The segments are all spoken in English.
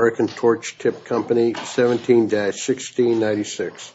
17-1696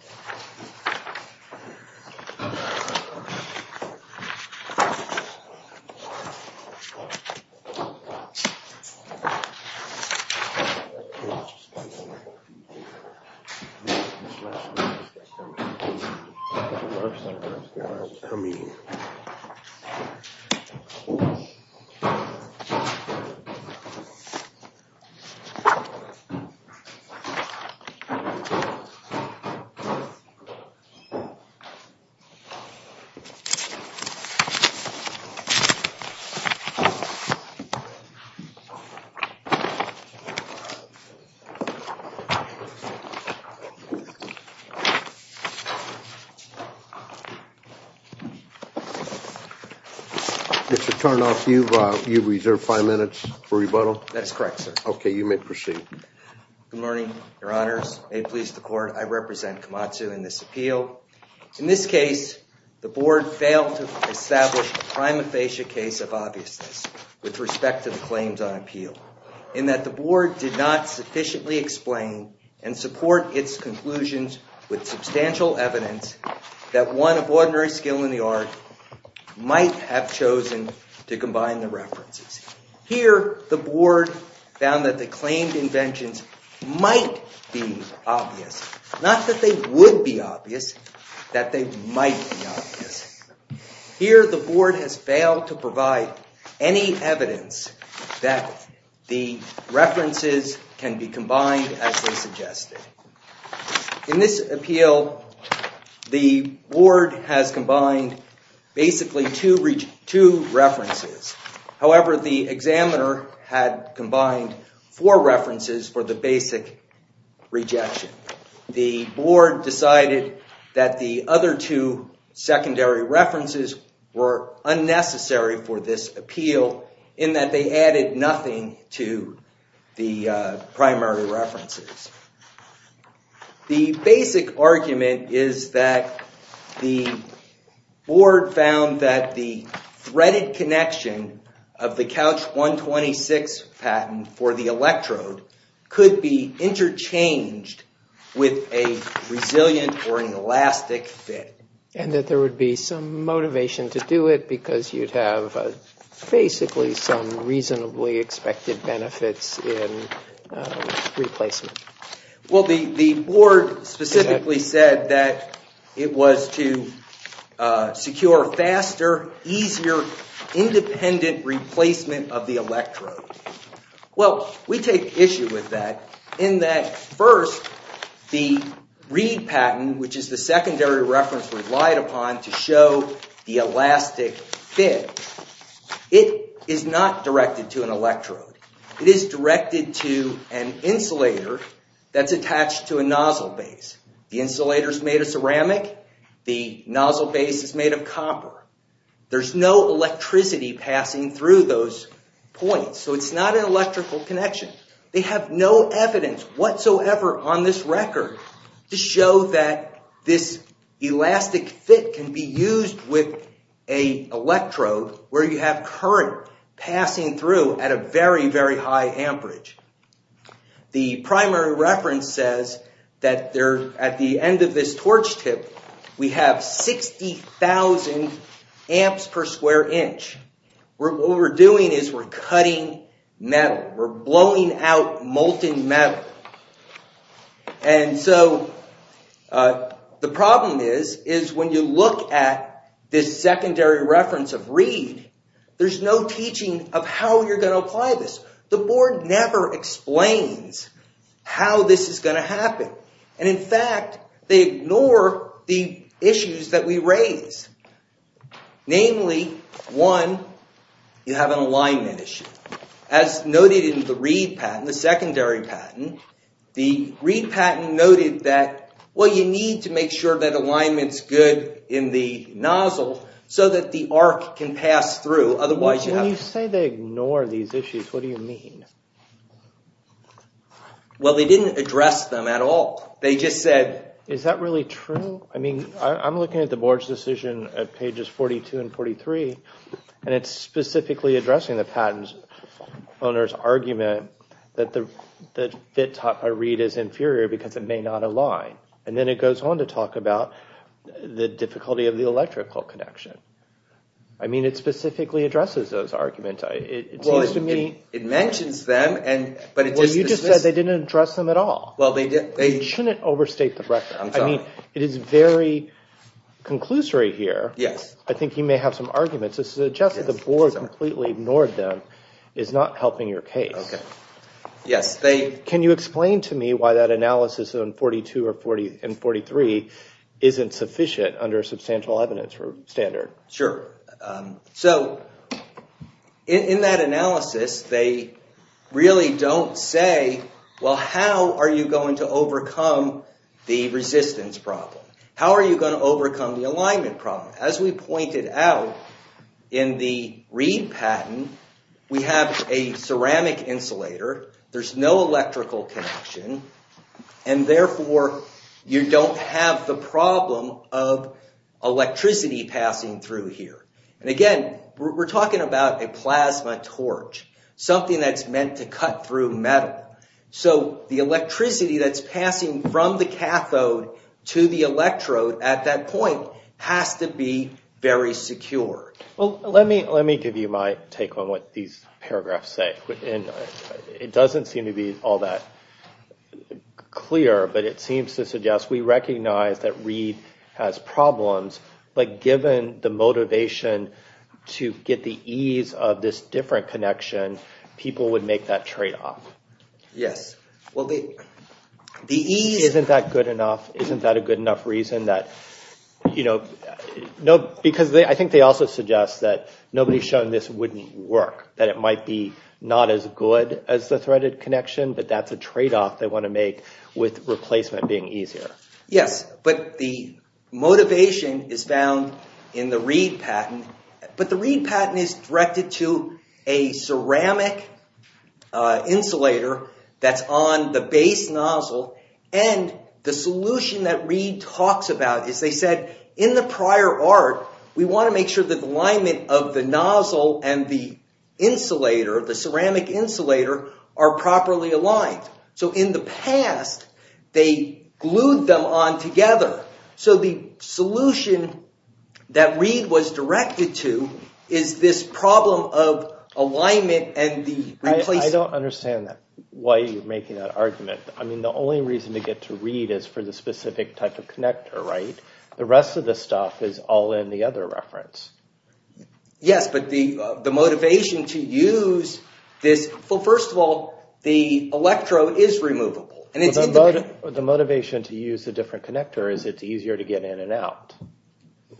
Mr. Tarnoff, you've reserved five minutes for rebuttal. That's correct, sir. Okay, you may proceed. Good morning, Your Honors. May it please the Court, I represent Komatsu in this appeal. In this case, the Board failed to establish a prima facie case of obviousness with respect to the claims on appeal in that the Board did not sufficiently explain and support its conclusions with substantial evidence that one of ordinary skill in the art might have chosen to combine the references. Here, the Board found that the claimed inventions might be obvious. Not that they would be obvious, but that they might be obvious. Here, the Board has failed to provide any evidence that the references can be combined as they suggested. In this appeal, the Board has combined basically two references. However, the examiner had combined four references for the basic rejection. The Board decided that the other two secondary references were unnecessary for this appeal in that they added nothing to the primary references. The basic argument is that the Board found that the threaded connection of the Couch 126 patent for the electrode could be interchanged with a resilient or an elastic fit. And that there would be some motivation to do it because you'd have basically some reasonably expected benefits in replacement. Well, the Board specifically said that it was to secure faster, easier, independent replacement of the electrode. Well, we take issue with that in that first, the Reed patent, which is the secondary reference relied upon to show the elastic fit. It is not directed to an electrode. It is directed to an insulator that's attached to a nozzle base. The insulator's made of ceramic. The nozzle base is made of copper. There's no electricity passing through those points, so it's not an electrical connection. They have no evidence whatsoever on this record to show that this elastic fit can be used with an electrode where you have current passing through at a very, very high amperage. The primary reference says that at the end of this torch tip, we have 60,000 amps per square inch. What we're doing is we're cutting metal. We're blowing out molten metal. And so the problem is, is when you look at this secondary reference of Reed, there's no teaching of how you're going to apply this. The Board never explains how this is going to happen. And in fact, they ignore the issues that we raise. Namely, one, you have an alignment issue. As noted in the Reed patent, the secondary patent, the Reed patent noted that, well, you need to make sure that alignment's good in the nozzle so that the arc can pass through. When you say they ignore these issues, what do you mean? Well, they didn't address them at all. They just said... Is that really true? I mean, I'm looking at the Board's decision at pages 42 and 43, and it's specifically addressing the patent owner's argument that the fit taught by Reed is inferior because it may not align. And then it goes on to talk about the difficulty of the electrical connection. I mean, it specifically addresses those arguments. It seems to me... Well, it mentions them, but it just... Well, you just said they didn't address them at all. Well, they didn't... You shouldn't overstate the record. I'm sorry. I mean, it is very conclusory here. Yes. I think you may have some arguments that suggest that the Board completely ignored them is not helping your case. Okay. Yes, they... Can you explain to me why that analysis in 42 and 43 isn't sufficient under a substantial evidence standard? Sure. So, in that analysis, they really don't say, well, how are you going to overcome the resistance problem? How are you going to overcome the alignment problem? As we pointed out in the Reed patent, we have a ceramic insulator. There's no electrical connection. And therefore, you don't have the problem of electricity passing through here. And again, we're talking about a plasma torch, something that's meant to cut through metal. So, the electricity that's passing from the cathode to the electrode at that point has to be very secure. Well, let me give you my take on what these paragraphs say. It doesn't seem to be all that clear, but it seems to suggest we recognize that Reed has problems. But given the motivation to get the ease of this different connection, people would make that tradeoff. Yes. Well, the ease... Isn't that good enough? Isn't that a good enough reason that... Because I think they also suggest that nobody's shown this wouldn't work, that it might be not as good as the threaded connection, but that's a tradeoff they want to make with replacement being easier. Yes, but the motivation is found in the Reed patent. But the Reed patent is directed to a ceramic insulator that's on the base nozzle. And the solution that Reed talks about is they said, in the prior art, we want to make sure that the alignment of the nozzle and the insulator, the ceramic insulator, are properly aligned. So, in the past, they glued them on together. So, the solution that Reed was directed to is this problem of alignment and the replacement... I don't understand why you're making that argument. I mean, the only reason to get to Reed is for the specific type of connector, right? The rest of the stuff is all in the other reference. Yes, but the motivation to use this... Well, first of all, the electrode is removable. The motivation to use the different connector is it's easier to get in and out.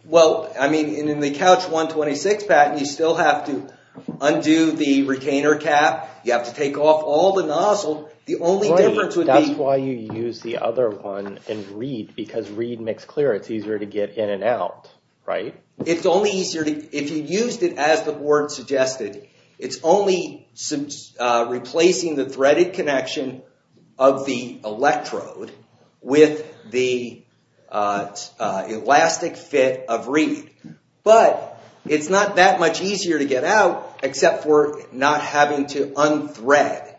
Well, I mean, in the Couch 126 patent, you still have to undo the retainer cap. You have to take off all the nozzle. That's why you use the other one in Reed because Reed makes clear it's easier to get in and out, right? It's only easier if you used it as the board suggested. It's only replacing the threaded connection of the electrode with the elastic fit of Reed. But it's not that much easier to get out except for not having to unthread.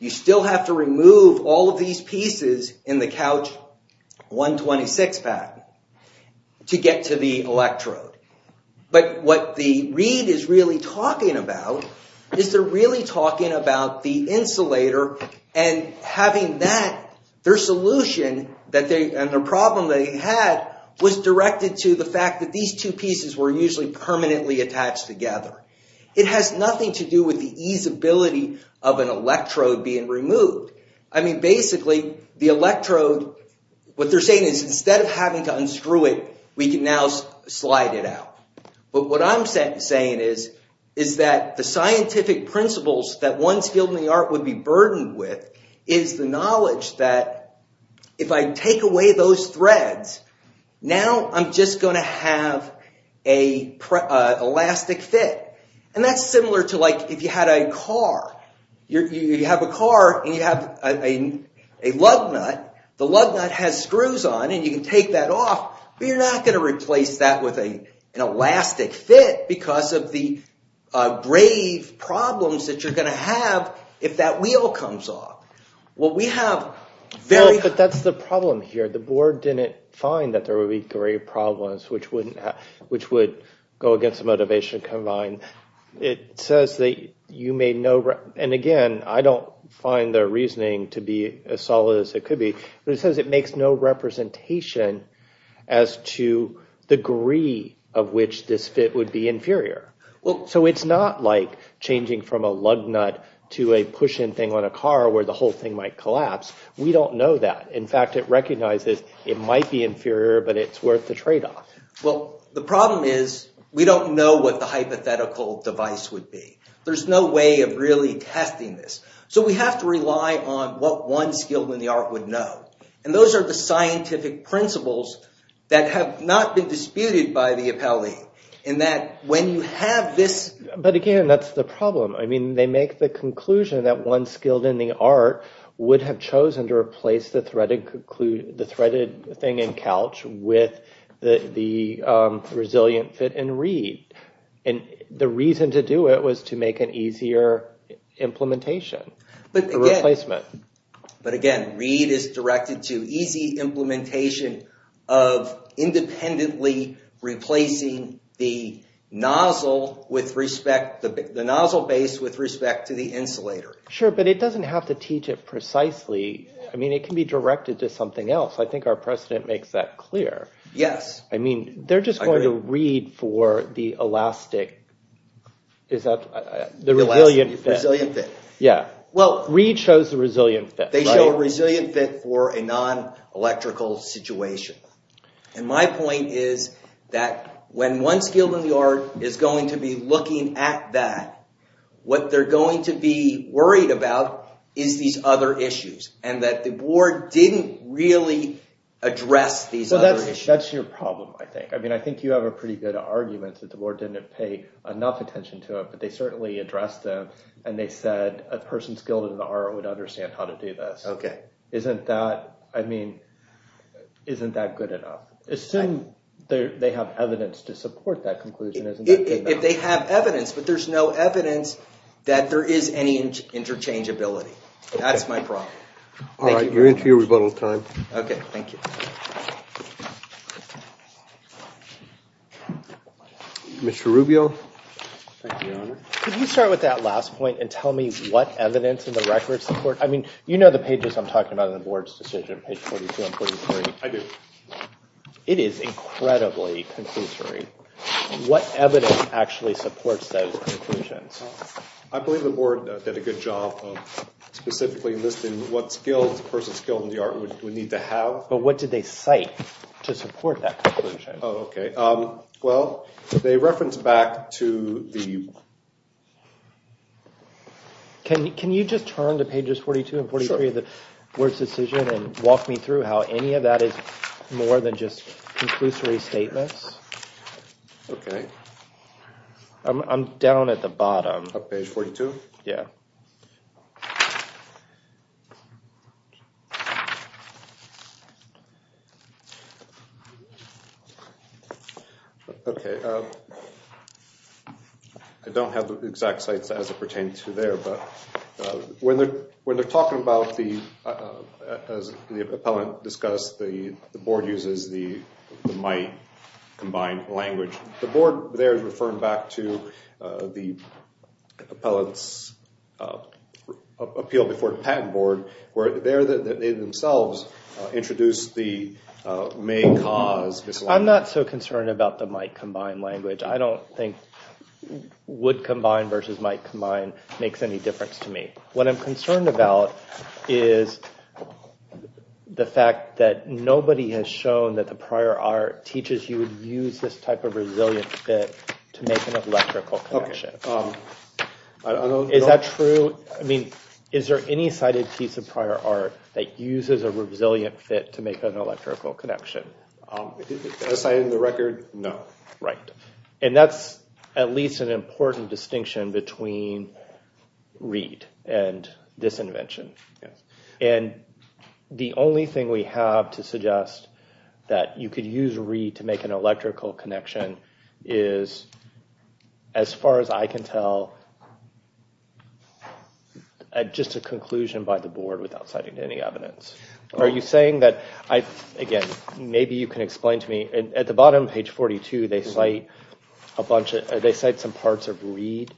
You still have to remove all of these pieces in the Couch 126 patent to get to the electrode. But what the Reed is really talking about is they're really talking about the insulator and having that. Their solution and the problem they had was directed to the fact that these two pieces were usually permanently attached together. It has nothing to do with the easability of an electrode being removed. I mean, basically, the electrode, what they're saying is instead of having to unscrew it, we can now slide it out. But what I'm saying is that the scientific principles that one's field in the art would be burdened with is the knowledge that if I take away those threads, now I'm just going to have an elastic fit. And that's similar to like if you had a car. You have a car and you have a lug nut. The lug nut has screws on and you can take that off, but you're not going to replace that with an elastic fit because of the brave problems that you're going to have if that wheel comes off. Well, we have very... But that's the problem here. The board didn't find that there would be three problems which would go against the motivation combined. It says that you may know... And again, I don't find their reasoning to be as solid as it could be. But it says it makes no representation as to the degree of which this fit would be inferior. So it's not like changing from a lug nut to a push-in thing on a car where the whole thing might collapse. We don't know that. In fact, it recognizes it might be inferior, but it's worth the trade-off. Well, the problem is we don't know what the hypothetical device would be. There's no way of really testing this. So we have to rely on what one skilled in the art would know. And those are the scientific principles that have not been disputed by the appellee in that when you have this... But again, that's the problem. I mean, they make the conclusion that one skilled in the art would have chosen to replace the threaded thing in couch with the resilient fit in reed. And the reason to do it was to make an easier implementation, a replacement. But again, reed is directed to easy implementation of independently replacing the nozzle base with respect to the insulator. Sure, but it doesn't have to teach it precisely. I mean, it can be directed to something else. I think our precedent makes that clear. Yes. I mean, they're just going to reed for the elastic. Is that the resilient fit? The resilient fit. Yeah, reed shows the resilient fit. They show a resilient fit for a non-electrical situation. And my point is that when one skilled in the art is going to be looking at that, what they're going to be worried about is these other issues. And that the board didn't really address these other issues. That's your problem, I think. I mean, I think you have a pretty good argument that the board didn't pay enough attention to it. But they certainly addressed them. And they said a person skilled in the art would understand how to do this. OK. Isn't that good enough? Assume they have evidence to support that conclusion. If they have evidence, but there's no evidence that there is any interchangeability. That's my problem. All right, you're into your rebuttal time. OK, thank you. Mr. Rubio. Could you start with that last point and tell me what evidence in the record support? I mean, you know the pages I'm talking about in the board's decision, page 42 and 43. I do. It is incredibly conclusory. What evidence actually supports those conclusions? I believe the board did a good job of specifically listing what skills a person skilled in the art would need to have. But what did they cite to support that conclusion? Oh, OK. Well, they reference back to the… Can you just turn to pages 42 and 43 of the board's decision and walk me through how any of that is more than just conclusory statements? OK. I'm down at the bottom. Page 42? Yeah. OK. I don't have the exact sites as it pertains to there, but when they're talking about the… As the appellant discussed, the board uses the MITE combined language. The board there is referring back to the appellant's appeal before the patent board, where they themselves introduced the main cause. I'm not so concerned about the MITE combined language. I don't think would combine versus might combine makes any difference to me. What I'm concerned about is the fact that nobody has shown that the prior art teaches you would use this type of resilient fit to make an electrical connection. Is that true? I mean, is there any cited piece of prior art that uses a resilient fit to make an electrical connection? As cited in the record, no. Right. And that's at least an important distinction between Reed and this invention. And the only thing we have to suggest that you could use Reed to make an electrical connection is, as far as I can tell, just a conclusion by the board without citing any evidence. Are you saying that—again, maybe you can explain to me. At the bottom, page 42, they cite a bunch of—they cite some parts of Reed.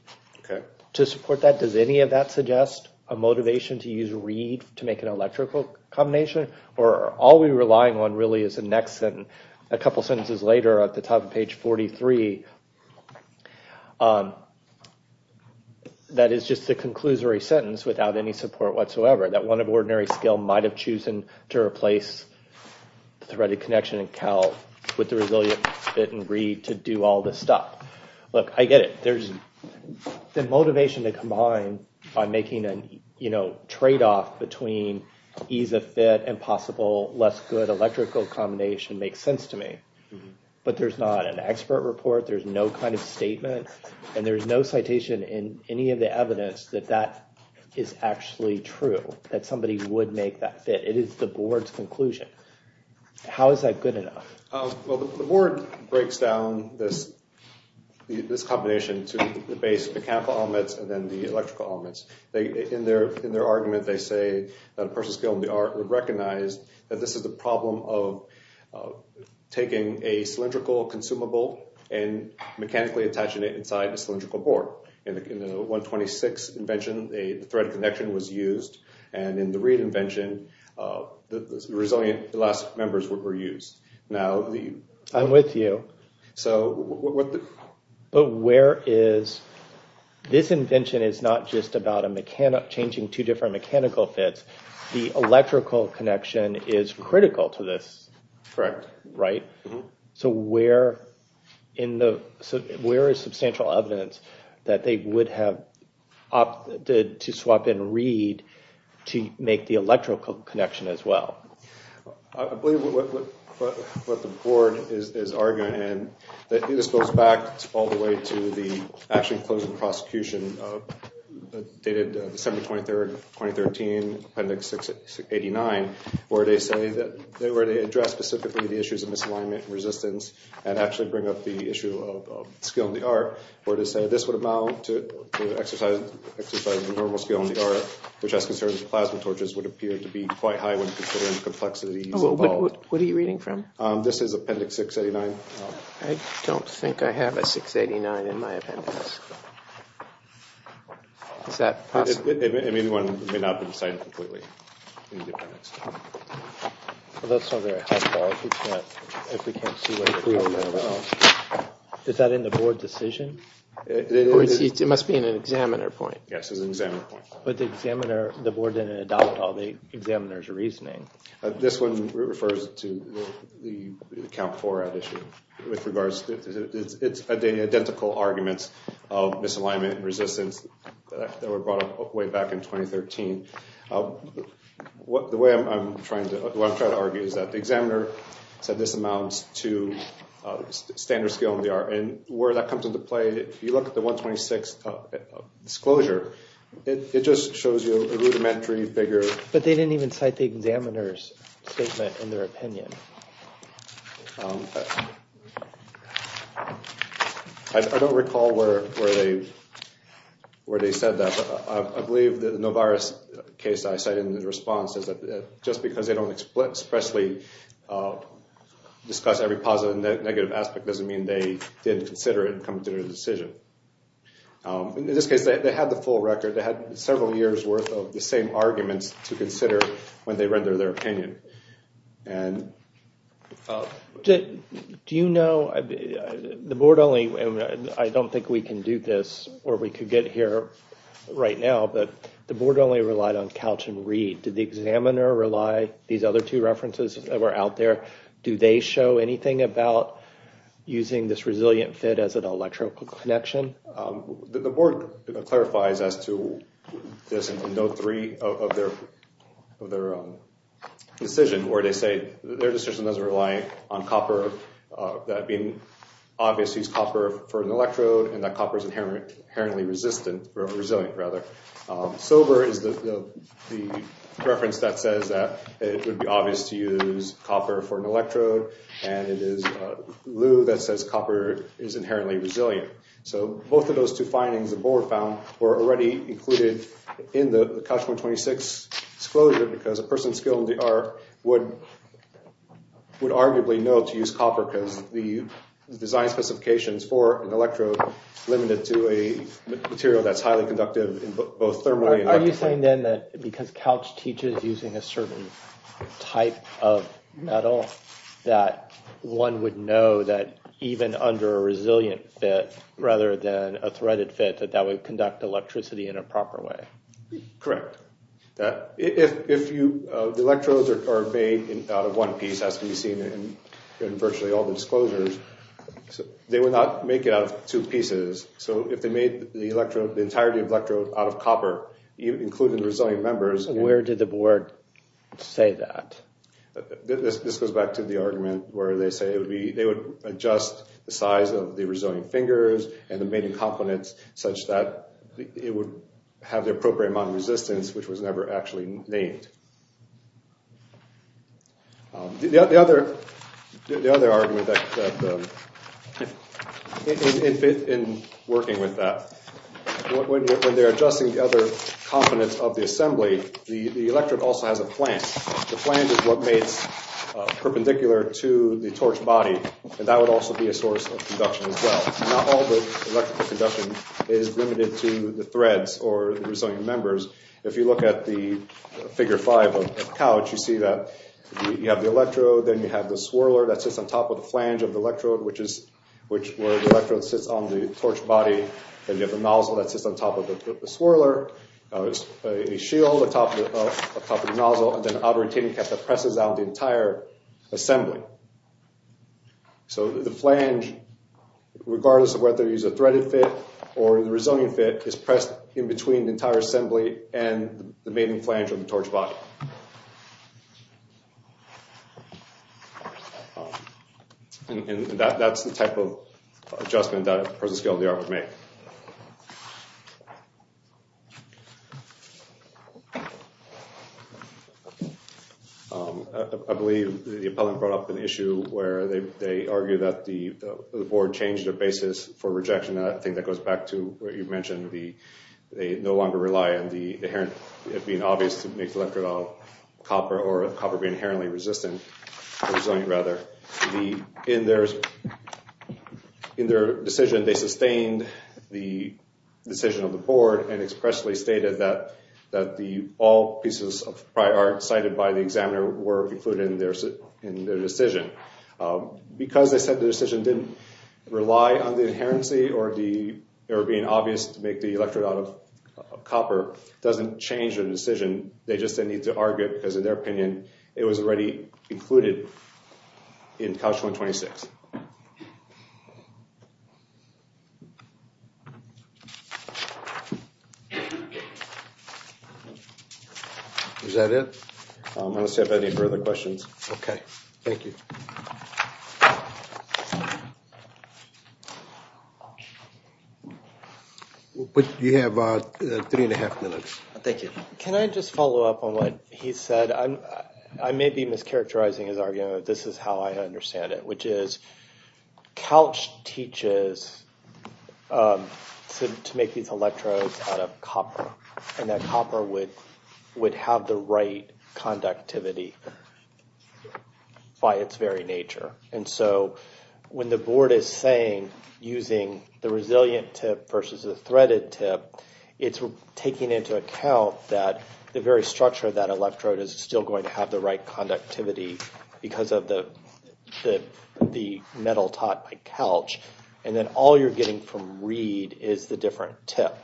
To support that, does any of that suggest a motivation to use Reed to make an electrical combination? Or all we're relying on really is the next sentence. A couple sentences later, at the top of page 43, that is just a conclusory sentence without any support whatsoever. That one of ordinary skill might have chosen to replace the threaded connection in Cal with the resilient fit in Reed to do all this stuff. Look, I get it. There's the motivation to combine by making a tradeoff between ease of fit and possible less good electrical combination makes sense to me. But there's not an expert report. There's no kind of statement. And there's no citation in any of the evidence that that is actually true, that somebody would make that fit. It is the board's conclusion. How is that good enough? Well, the board breaks down this combination to the base mechanical elements and then the electrical elements. In their argument, they say that a person skilled in the art would recognize that this is the problem of taking a cylindrical consumable and mechanically attaching it inside a cylindrical board. In the 126 invention, the threaded connection was used. And in the Reed invention, the resilient elastic members were used. I'm with you. But where is – this invention is not just about changing two different mechanical fits. The electrical connection is critical to this. Correct. Right? So where is substantial evidence that they would have opted to swap in Reed to make the electrical connection as well? I believe what the board is arguing, and this goes back all the way to the actual closing prosecution dated December 23rd, 2013, Appendix 689, where they say that – where they address specifically the issues of misalignment and resistance and actually bring up the issue of skill in the art, where they say this would amount to exercising normal skill in the art, which has concerns that plasma torches would appear to be quite high when considering the complexities involved. What are you reading from? This is Appendix 689. I don't think I have a 689 in my appendix. Is that possible? It may not be decided completely. Well, that's not very helpful if we can't see what it's all about. Is that in the board decision? It must be in an examiner point. Yes, it's an examiner point. But the board didn't adopt all the examiner's reasoning. This one refers to the account for that issue. It's identical arguments of misalignment and resistance that were brought up way back in 2013. The way I'm trying to argue is that the examiner said this amounts to standard skill in the art. And where that comes into play, if you look at the 126 disclosure, it just shows you a rudimentary figure. But they didn't even cite the examiner's statement in their opinion. I don't recall where they said that. But I believe the Novaris case I cited in the response is that just because they don't expressly discuss every positive and negative aspect doesn't mean they didn't consider it and come to their decision. In this case, they had the full record. They had several years' worth of the same arguments to consider when they rendered their opinion. Do you know, the board only, and I don't think we can do this or we could get here right now, but the board only relied on Couch and Read. Did the examiner rely, these other two references that were out there, do they show anything about using this resilient fit as an electrical connection? The board clarifies as to this in Note 3 of their decision where they say their decision doesn't rely on copper, that being obvious, use copper for an electrode, and that copper is inherently resilient. Sober is the reference that says that it would be obvious to use copper for an electrode, and it is Lou that says copper is inherently resilient. So both of those two findings, the board found, were already included in the Couch 126 disclosure because a person skilled in the art would arguably know to use copper because the design specifications for an electrode limited to a material that's highly conductive in both thermally and electrically. Are you saying then that because Couch teaches using a certain type of metal that one would know that even under a resilient fit rather than a threaded fit that that would conduct electricity in a proper way? Correct. If the electrodes are made out of one piece, as we've seen in virtually all the disclosures, they would not make it out of two pieces. So if they made the entire electrode out of copper, including the resilient members... Where did the board say that? This goes back to the argument where they say they would adjust the size of the resilient fingers and the mating components such that it would have the appropriate amount of resistance, which was never actually named. The other argument in working with that, when they're adjusting the other components of the assembly, the electrode also has a flange. The flange is what makes perpendicular to the torch body, and that would also be a source of conduction as well. Not all the electrical conduction is limited to the threads or resilient members. If you look at the figure five of Couch, you see that you have the electrode, then you have the swirler that sits on top of the flange of the electrode, which is where the electrode sits on the torch body. Then you have the nozzle that sits on top of the swirler. There's a shield on top of the nozzle, and then an outer retaining cap that presses down the entire assembly. So the flange, regardless of whether you use a threaded fit or the resilient fit, is pressed in between the entire assembly and the mating flange of the torch body. And that's the type of adjustment that a person of the scale of the art would make. I believe the appellant brought up an issue where they argue that the board changed their basis for rejection, and I think that goes back to what you mentioned, they no longer rely on the inherent, it being obvious to make the electrode out of copper, or copper being inherently resistant, or resilient rather. In their decision, they sustained the decision of the board and expressly stated that all pieces of prior art cited by the examiner were included in their decision. Because they said the decision didn't rely on the inherency or being obvious to make the electrode out of copper, it doesn't change their decision. They just said they need to argue it, because in their opinion, it was already included in Couch 126. Is that it? I don't see any further questions. Okay, thank you. You have three and a half minutes. Thank you. Can I just follow up on what he said? I may be mischaracterizing his argument, but this is how I understand it, which is Couch teaches to make these electrodes out of copper, and that copper would have the right conductivity by its very nature. And so when the board is saying, using the resilient tip versus the threaded tip, it's taking into account that the very structure of that electrode is still going to have the right conductivity because of the metal taught by Couch, and then all you're getting from Reed is the different tip,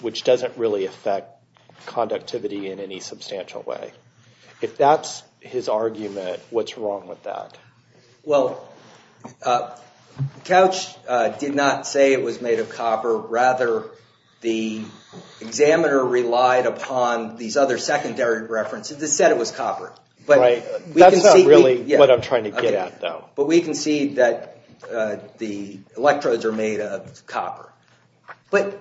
which doesn't really affect conductivity in any substantial way. If that's his argument, what's wrong with that? Well, Couch did not say it was made of copper. Rather, the examiner relied upon these other secondary references that said it was copper. Right. That's not really what I'm trying to get at, though. But we can see that the electrodes are made of copper. But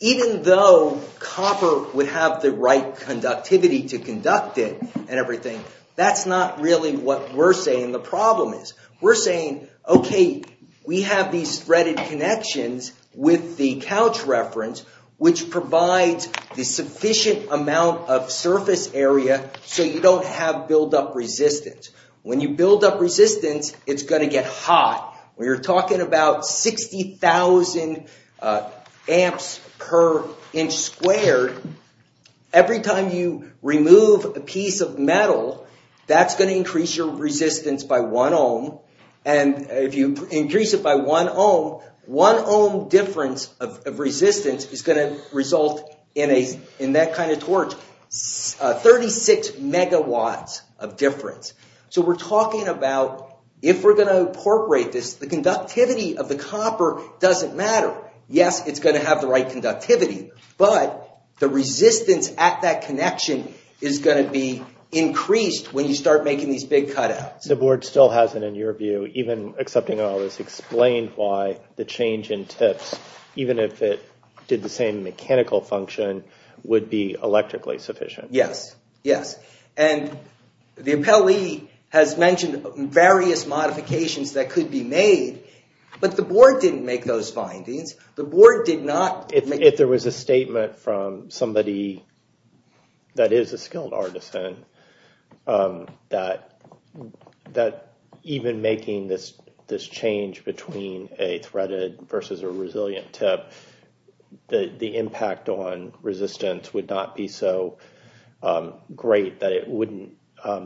even though copper would have the right conductivity to conduct it and everything, that's not really what we're saying the problem is. We're saying, okay, we have these threaded connections with the Couch reference, which provides the sufficient amount of surface area so you don't have buildup resistance. When you build up resistance, it's going to get hot. When you're talking about 60,000 amps per inch squared, every time you remove a piece of metal, that's going to increase your resistance by 1 ohm. And if you increase it by 1 ohm, 1 ohm difference of resistance is going to result in that kind of torch. 36 megawatts of difference. So we're talking about, if we're going to incorporate this, the conductivity of the copper doesn't matter. Yes, it's going to have the right conductivity, but the resistance at that connection is going to be increased when you start making these big cutouts. The board still hasn't, in your view, even accepting all this, explained why the change in tips, even if it did the same mechanical function, would be electrically sufficient. Yes, yes. And the appellee has mentioned various modifications that could be made, but the board didn't make those findings. If there was a statement from somebody that is a skilled artisan that even making this change between a threaded versus a resilient tip, the impact on resistance would not be so great that it wouldn't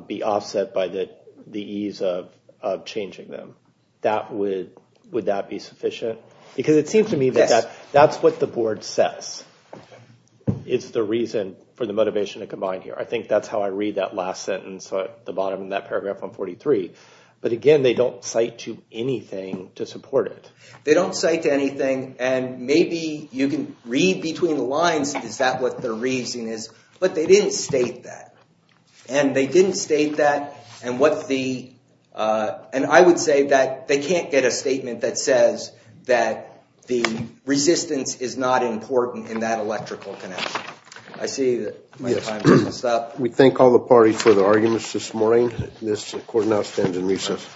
be offset by the ease of changing them, would that be sufficient? Because it seems to me that that's what the board says is the reason for the motivation to combine here. I think that's how I read that last sentence at the bottom of that paragraph on 43. But again, they don't cite to anything to support it. They don't cite to anything, and maybe you can read between the lines, is that what the reason is, but they didn't state that. And they didn't state that, and I would say that they can't get a statement that says that the resistance is not important in that electrical connection. I see that my time is up. We thank all the parties for their arguments this morning. This court now stands in recess.